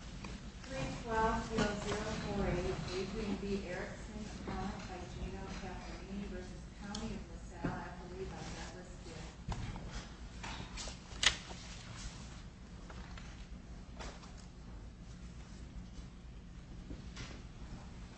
312-0048, Adrian B. Erickson, appellant by Gino Cafferini v. County of LaSalle, Appalooza, Memphis, D.A.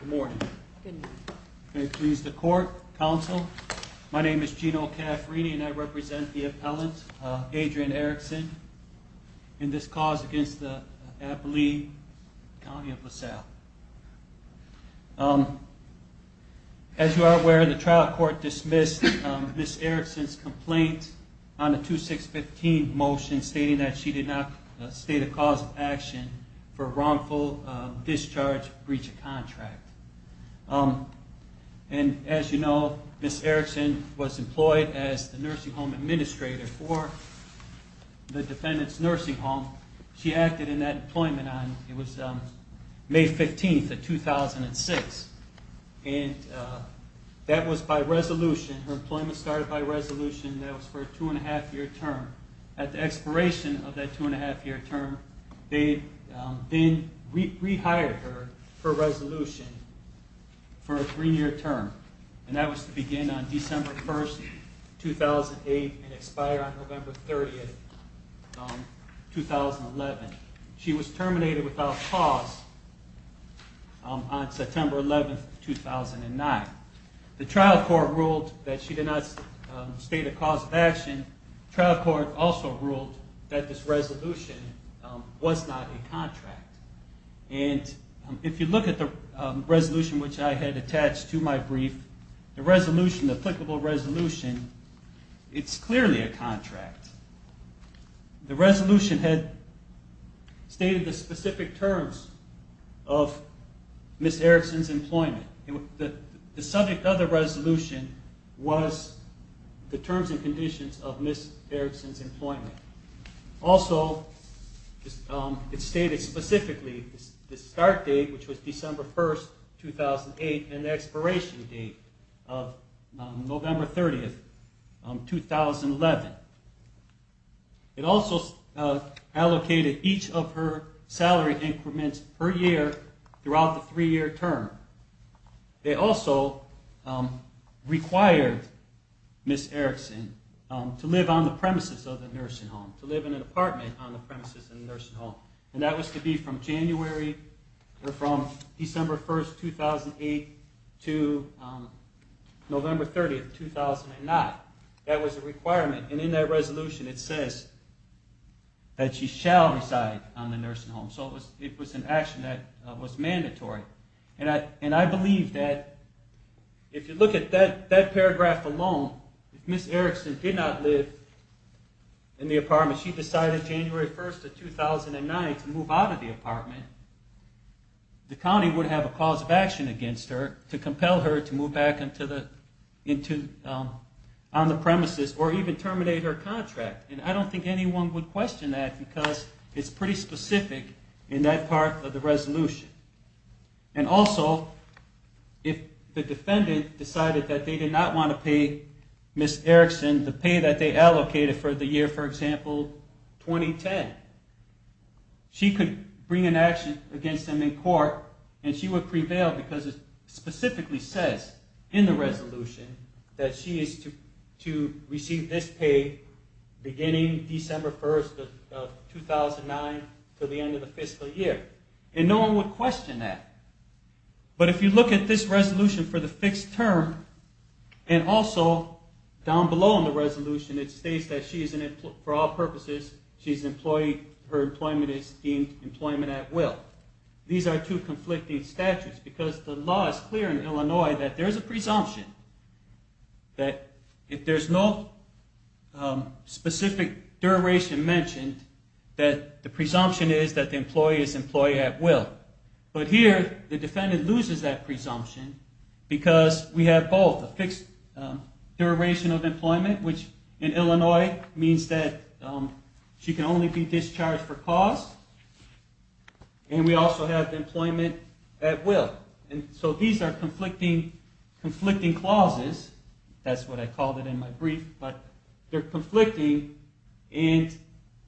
Good morning. Good morning. May it please the court, counsel, my name is Gino Cafferini and I represent the appellant, Adrian Erickson. And this cause against the Appalooza County of LaSalle. As you are aware, the trial court dismissed Ms. Erickson's complaint on the 2615 motion stating that she did not state a cause of action for wrongful discharge breach of contract. And as you know, Ms. Erickson was employed as the nursing home administrator for the defendant's nursing home. She acted in that employment on, it was May 15th of 2006. And that was by resolution, her employment started by resolution, that was for a two and a half year term. At the expiration of that two and a half year term, they then rehired her for resolution for a three year term. And that was to begin on December 1st, 2008 and expire on November 30th, 2011. She was terminated without cause on September 11th, 2009. The trial court ruled that she did not state a cause of action. The trial court also ruled that this resolution was not a contract. And if you look at the resolution which I had attached to my brief, the resolution, the applicable resolution, it's clearly a contract. The resolution had stated the specific terms of Ms. Erickson's employment. The subject of the resolution was the terms and conditions of Ms. Erickson's employment. Also, it stated specifically the start date, which was December 1st, 2008, and the expiration date of November 30th, 2011. It also allocated each of her salary increments per year throughout the three year term. They also required Ms. Erickson to live on the premises of the nursing home, to live in an apartment on the premises of the nursing home. And that was to be from January, or from December 1st, 2008 to November 30th, 2009. That was a requirement, and in that resolution it says that she shall reside on the nursing home. So it was an action that was mandatory. And I believe that if you look at that paragraph alone, if Ms. Erickson did not live in the apartment, she decided January 1st of 2009 to move out of the apartment, the county would have a cause of action against her to compel her to move back on the premises or even terminate her contract. And I don't think anyone would question that because it's pretty specific in that part of the resolution. And also, if the defendant decided that they did not want to pay Ms. Erickson the pay that they allocated for the year, for example, 2010, she could bring an action against them in court and she would prevail because it specifically says in the resolution that she is to receive this pay beginning December 1st of 2009 to the end of the fiscal year. And no one would question that. But if you look at this resolution for the fixed term, and also down below in the resolution it states that for all purposes her employment is deemed employment at will. These are two conflicting statutes because the law is clear in Illinois that there is a presumption that if there is no specific duration mentioned, that the presumption is that the employee is employee at will. But here the defendant loses that presumption because we have both a fixed duration of employment, which in Illinois means that she can only be discharged for cause, and we also have employment at will. So these are conflicting clauses, that's what I called it in my brief, but they're conflicting and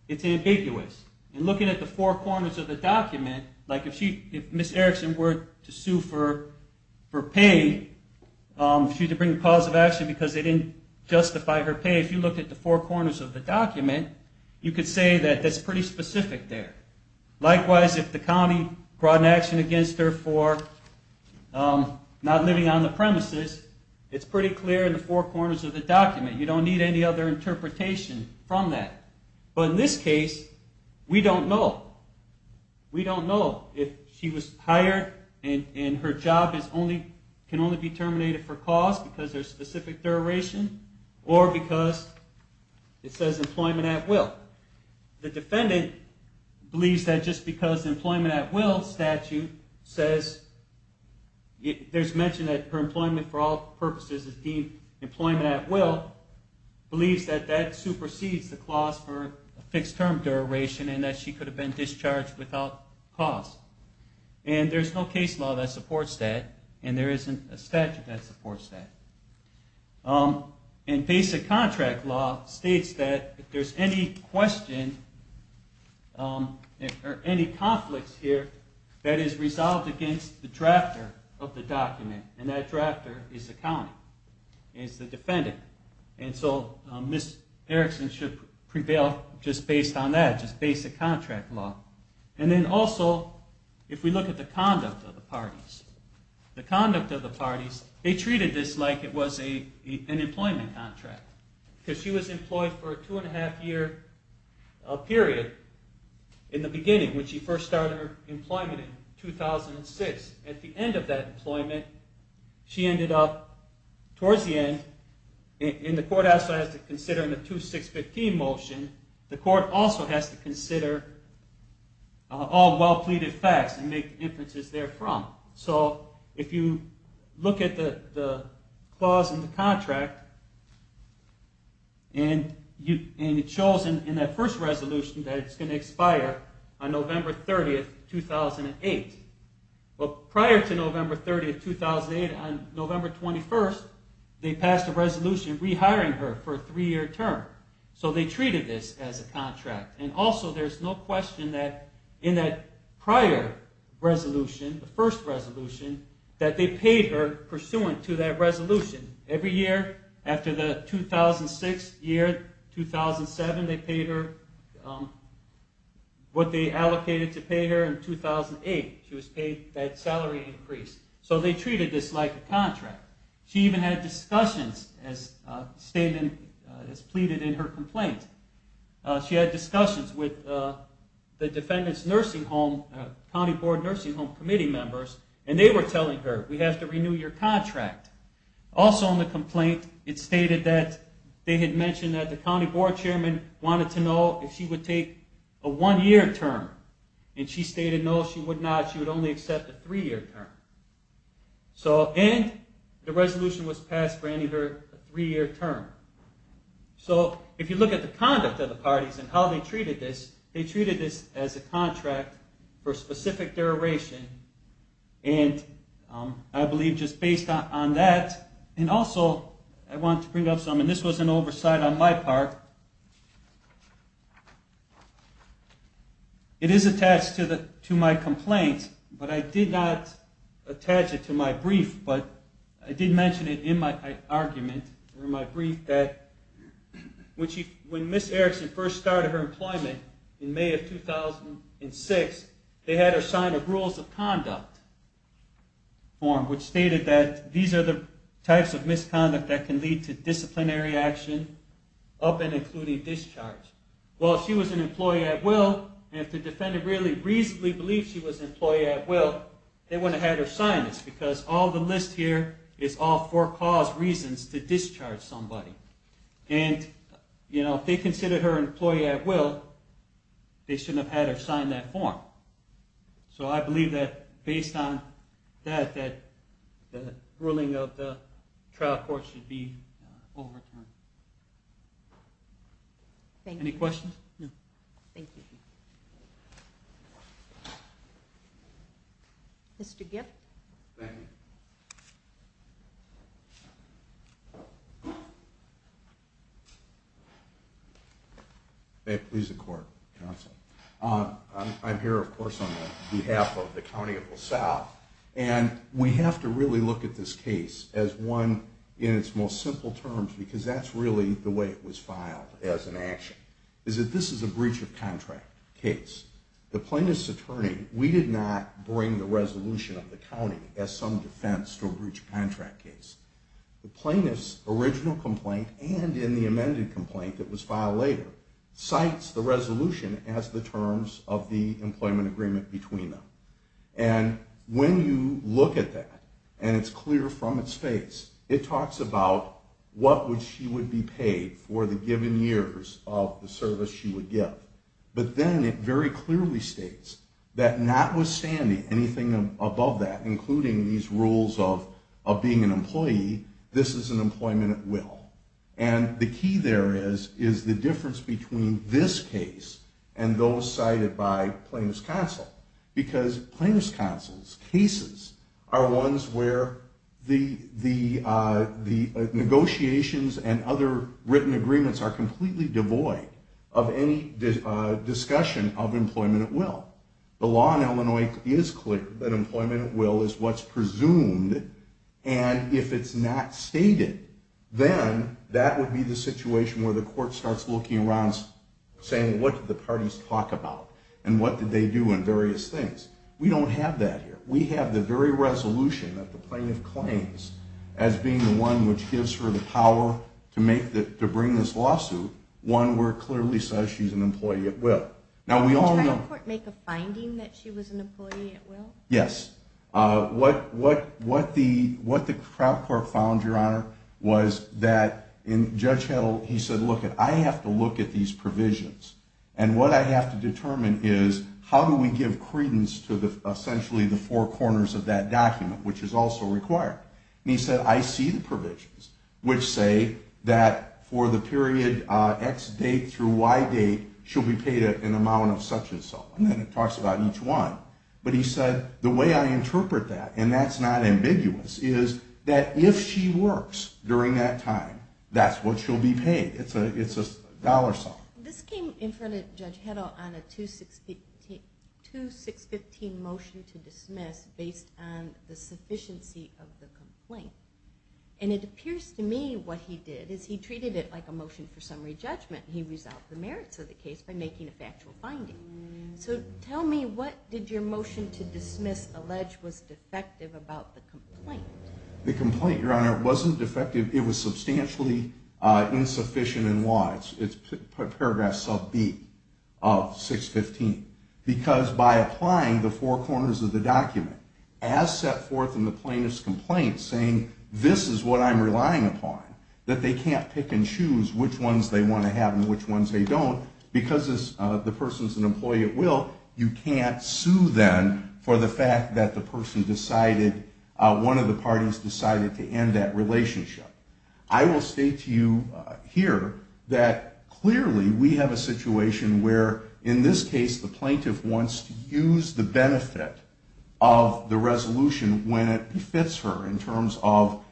it's ambiguous. And looking at the four corners of the document, like if Ms. Erickson were to sue for pay, if she were to bring a cause of action because they didn't justify her pay, if you look at the four corners of the document, you could say that that's pretty specific there. Likewise, if the county brought an action against her for not living on the premises, it's pretty clear in the four corners of the document. You don't need any other interpretation from that. But in this case, we don't know. We don't know if she was hired and her job can only be terminated for cause because there's a specific duration or because it says employment at will. The defendant believes that just because employment at will statute says, there's mention that her employment for all purposes is deemed employment at will, believes that that supersedes the clause for a fixed term duration and that she could have been discharged without cause. And there's no case law that supports that, and there isn't a statute that supports that. And basic contract law states that if there's any question or any conflicts here, that is resolved against the drafter of the case as the defendant. And so Ms. Erickson should prevail just based on that, just basic contract law. And then also, if we look at the conduct of the parties, they treated this like it was an employment contract. Because she was employed for a two and a half year period in the beginning, when she first started her employment in 2006. At the end of that employment, she ended up, towards the end, and the court has to consider in the 2615 motion, the court also has to consider all well-pleaded facts and make inferences therefrom. So if you look at the clause in the contract, and it shows in that first resolution that it's going to expire on November 30th, 2008. Well, prior to November 30th, 2008, on November 21st, they passed a resolution rehiring her for a three-year term. So they treated this as a contract. And also, there's no question that in that prior resolution, the what they allocated to pay her in 2008, she was paid that salary increase. So they treated this like a contract. She even had discussions as pleaded in her complaint. She had discussions with the defendant's County Board Nursing Home Committee members, and they were telling her, we have to renew your contract. Also in the complaint, it stated that they had mentioned that the County Board Chairman wanted to know if she would take a one-year term. And she stated no, she would not. She would only accept a three-year term. And the resolution was passed granting her a three-year term. So if you look at the conduct of the parties and how they treated this, they treated this as a contract for a specific duration. And I believe just based on that, and also, I want to bring up something. This was an oversight on my part. It is attached to my complaint, but I did not attach it to my brief. But I did mention it in my argument, in my brief, that when Ms. Erickson first started her case in 2006, they had her sign a Rules of Conduct form, which stated that these are the types of misconduct that can lead to disciplinary action, up and including discharge. Well, if she was an employee at will, and if the defendant really reasonably believed she was an employee at will, they wouldn't have had her sign this, because all the list here is all for cause reasons to discharge somebody. And if they considered her an employee at will, they shouldn't I'm here, of course, on behalf of the County of LaSalle, and we have to really look at this case as one in its most simple terms, because that's really the way it was defense to a breach of contract case. The plaintiff's original complaint, and in the amended complaint that was filed later, cites the resolution as the terms of the employment agreement between them. And when you look at that, and it's clear from its face, it talks about what she would be paid for the given years of the rules of being an employee, this is an employment at will. And the key there is the difference between this case and those cited by Plaintiff's Counsel, because Plaintiff's Counsel's cases are ones where the negotiations and other written agreements are completely devoid of any discussion of employment at will. The law in presumed, and if it's not stated, then that would be the situation where the court starts looking around saying, what did the parties talk about, and what did they do in various things. We don't have that here. We have the very resolution that the plaintiff claims as being the one which gives her the power to bring this lawsuit, one where the court clearly says she's an employee at will. Now, we all know... Did the court make a finding that she was an employee at will? Yes. What the crowd court found, Your Honor, was that Judge Heddle, he said, look, I have to look at these provisions, and what I have to determine is how do we give essentially the four corners of that document, which is also required. And he said, I see the provisions which say that for the period X date through Y date, she'll be paid an amount of such and so. And then it talks about each one. But he said, the way I interpret that, and that's not ambiguous, is that if she works during that time, that's what she'll be paid. It's a dollar sum. This came in front of Judge Heddle on a 2615 motion to dismiss based on the sufficiency of the complaint. And it appears to me what he did is he treated it like a motion for summary judgment. He resolved the merits of the case by making a factual finding. So tell me, what did your motion to dismiss allege was defective about the complaint? The complaint, Your Honor, wasn't defective. It was substantially insufficient in law. It's paragraph sub B of 615. Because by applying the four corners of the document as set forth in the plaintiff's complaint, saying this is what I'm relying upon, that they can't pick and choose which ones they want to have and which ones they don't, because the person's an employee at will, you can't sue them for the fact that the person decided, one of the parties decided to end that relationship. I will state to you here that clearly we have a situation where, in this case, the plaintiff wants to use the benefit of the resolution when it fits her in terms of,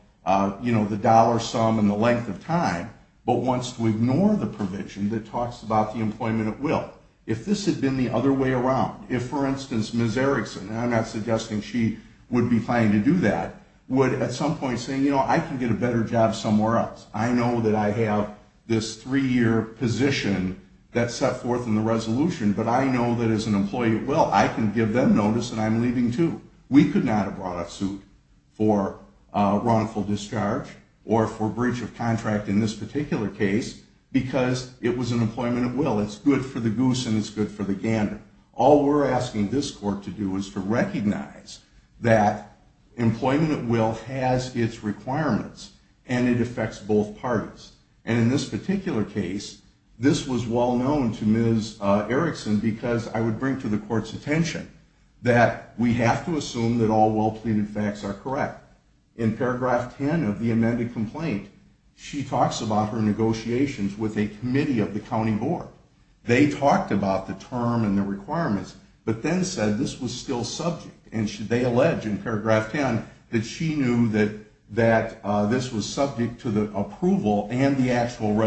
you know, the dollar sum and the length of time, but wants to ignore the provision that talks about the employment at will. If this had been the other way around, if, for instance, Ms. Erickson, and I'm not suggesting she would be planning to do that, would at some point say, you know, I can get a better job somewhere else. I know that I have this three-year position that's set forth in the resolution, but I know that as an employee at will, I can give them notice that I'm not going to sue for wrongful discharge or for breach of contract in this particular case, because it was an employment at will. It's good for the goose and it's good for the gander. All we're asking this court to do is to recognize that employment at will has its requirements and it affects both parties. And in this particular case, this was well stated. All the facts are correct. In paragraph 10 of the amended complaint, she talks about her negotiations with a committee of the county board. They talked about the term and the requirements, but then said this was still subject, and they allege in paragraph 10 that she knew that this was subject to the approval and the actual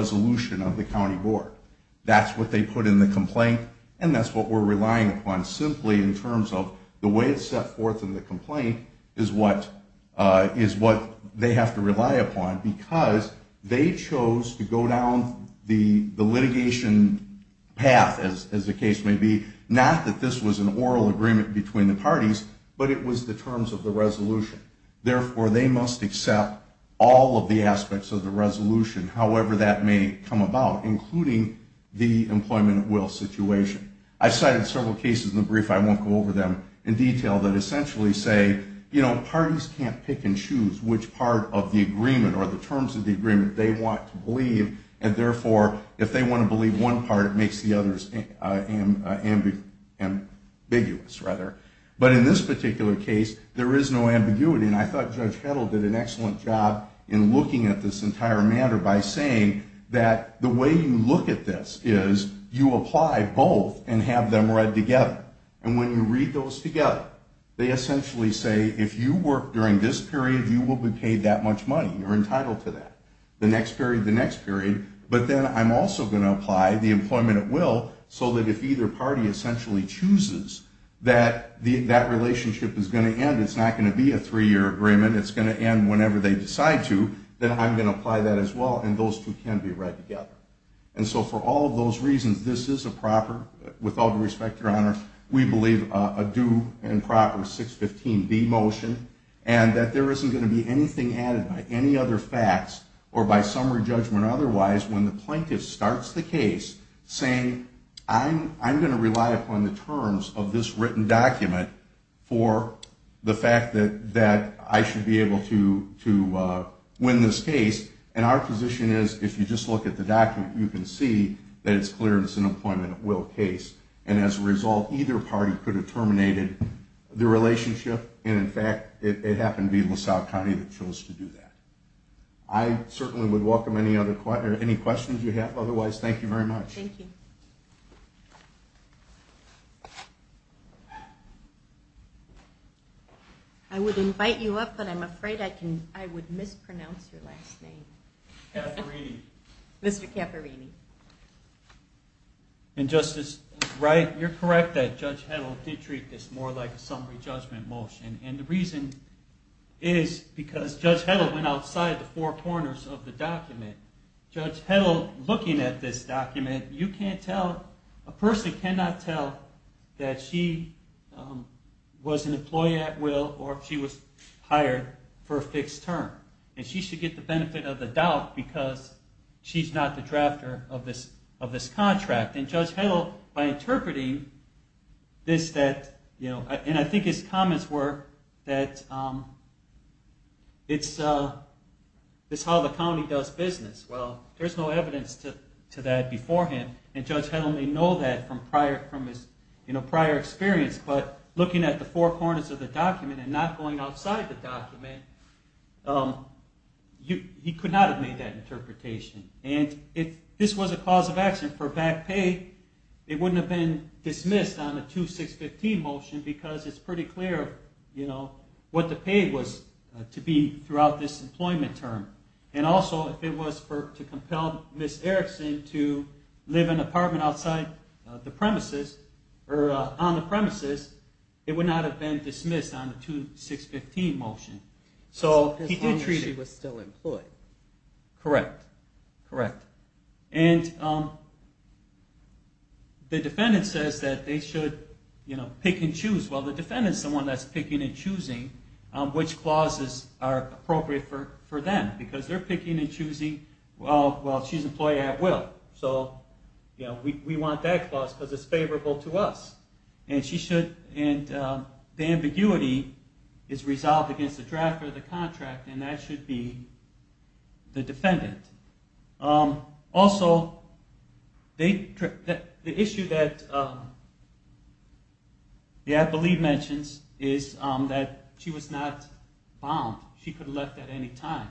is what they have to rely upon, because they chose to go down the litigation path, as the case may be, not that this was an oral agreement between the parties, but it was the terms of the resolution. Therefore, they must accept all of the aspects of the resolution, however that may come about, including the employment at will situation. I cited several cases in the brief, I won't go over them in detail, that essentially say, you know, parties can't pick and choose which part of the agreement or the terms of the agreement they want to believe, and therefore, if they want to believe one part, it makes the others ambiguous, rather. But in this particular case, there is no ambiguity, and I thought Judge And when you read those together, they essentially say, if you work during this period, you will be paid that much money, you're entitled to that. The next period, the next period, but then I'm also going to apply the employment at will, so that if either party essentially chooses that that relationship is going to end, it's not going to be a three-year agreement, it's going to end whenever they decide to, then I'm going to apply that as well, and those two can be read together. And so for all of those reasons, this is a proper, with all due respect, Your Honor, we believe a due and proper 615B motion, and that there isn't going to be anything added by any other facts, or by summary judgment or otherwise, when the plaintiff starts the case, saying, I'm going to rely upon the terms of this written document for the fact that I should be able to win this case, and our position is, if you just look at the document, you can see that it's clear it's an employment at will case, and as a result, either party could have terminated the relationship, and in fact, it happened to be LaSalle County that chose to do that. I certainly would welcome any questions you have. Otherwise, thank you very much. Thank you. I would invite you up, but I'm afraid I would mispronounce your last name. Mr. Cafferini. And Justice Wright, you're correct that Judge Heddle did treat this more like a summary judgment motion, and the reason is because Judge Heddle went outside the four corners of the document. Judge Heddle, looking at this document, you can't tell, a person cannot tell that she was an employee at will, or she was hired for a fixed term, and she should get the benefit of the doubt because she's not the drafter of this contract. And Judge Heddle, by interpreting this, and I think his comments were that it's how the county does business. Well, there's no evidence to that beforehand, and Judge Heddle may know that from his prior experience, but looking at the four corners of the document and not going outside the document, he could not have made that interpretation. And if this was a cause of action for back pay, it wouldn't have been dismissed on the 2615 motion because it's pretty clear what the pay was to be throughout this employment term. And also, if it was to compel Ms. Erickson to live in an apartment outside the premises, or on the premises, it would not have been dismissed on the 2615 motion. As long as she was still employed. Correct. And the defendant says that they should pick and choose. Well, the defendant is the one that's picking and choosing which clauses are appropriate for them. Because they're picking and choosing, well, she's an employee at will, so we want that clause because it's favorable to us. And the ambiguity is resolved against the drafter of the contract, and that should be the defendant. Also, the issue that the appellee mentions is that she was not bound. She could have left at any time.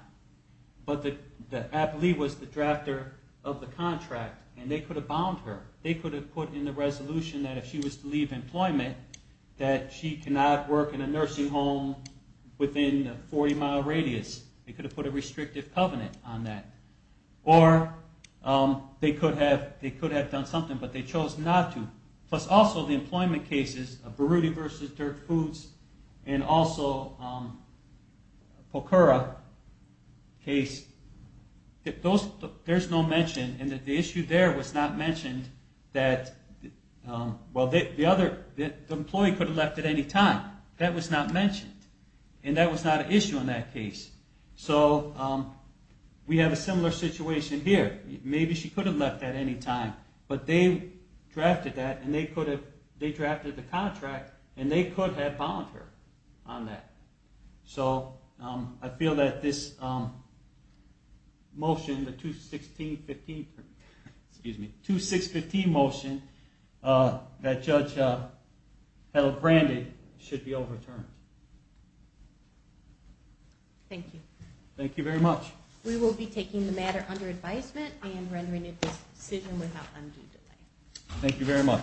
But the appellee was the drafter of the contract, and they could have bound her. They could have put in the resolution that if she was to leave employment, that she cannot work in a nursing home within a 40 mile radius. They could have put a restrictive covenant on that. Or they could have done something, but they chose not to. Plus also, the employment cases of Broody v. Dirt Foods, and also Pokora case, there's no mention, and the issue there was not mentioned that, well, the employee could have left at any time. That was not mentioned, and that was not an issue in that case. So we have a similar situation here. Maybe she could have left at any time, but they drafted the contract, and they could have bound her on that. So I feel that this motion, the 2-6-15 motion that Judge Held-Brandy should be overturned. Thank you. Thank you very much. We will be taking the matter under advisement and rendering it a decision without undue delay. Thank you very much.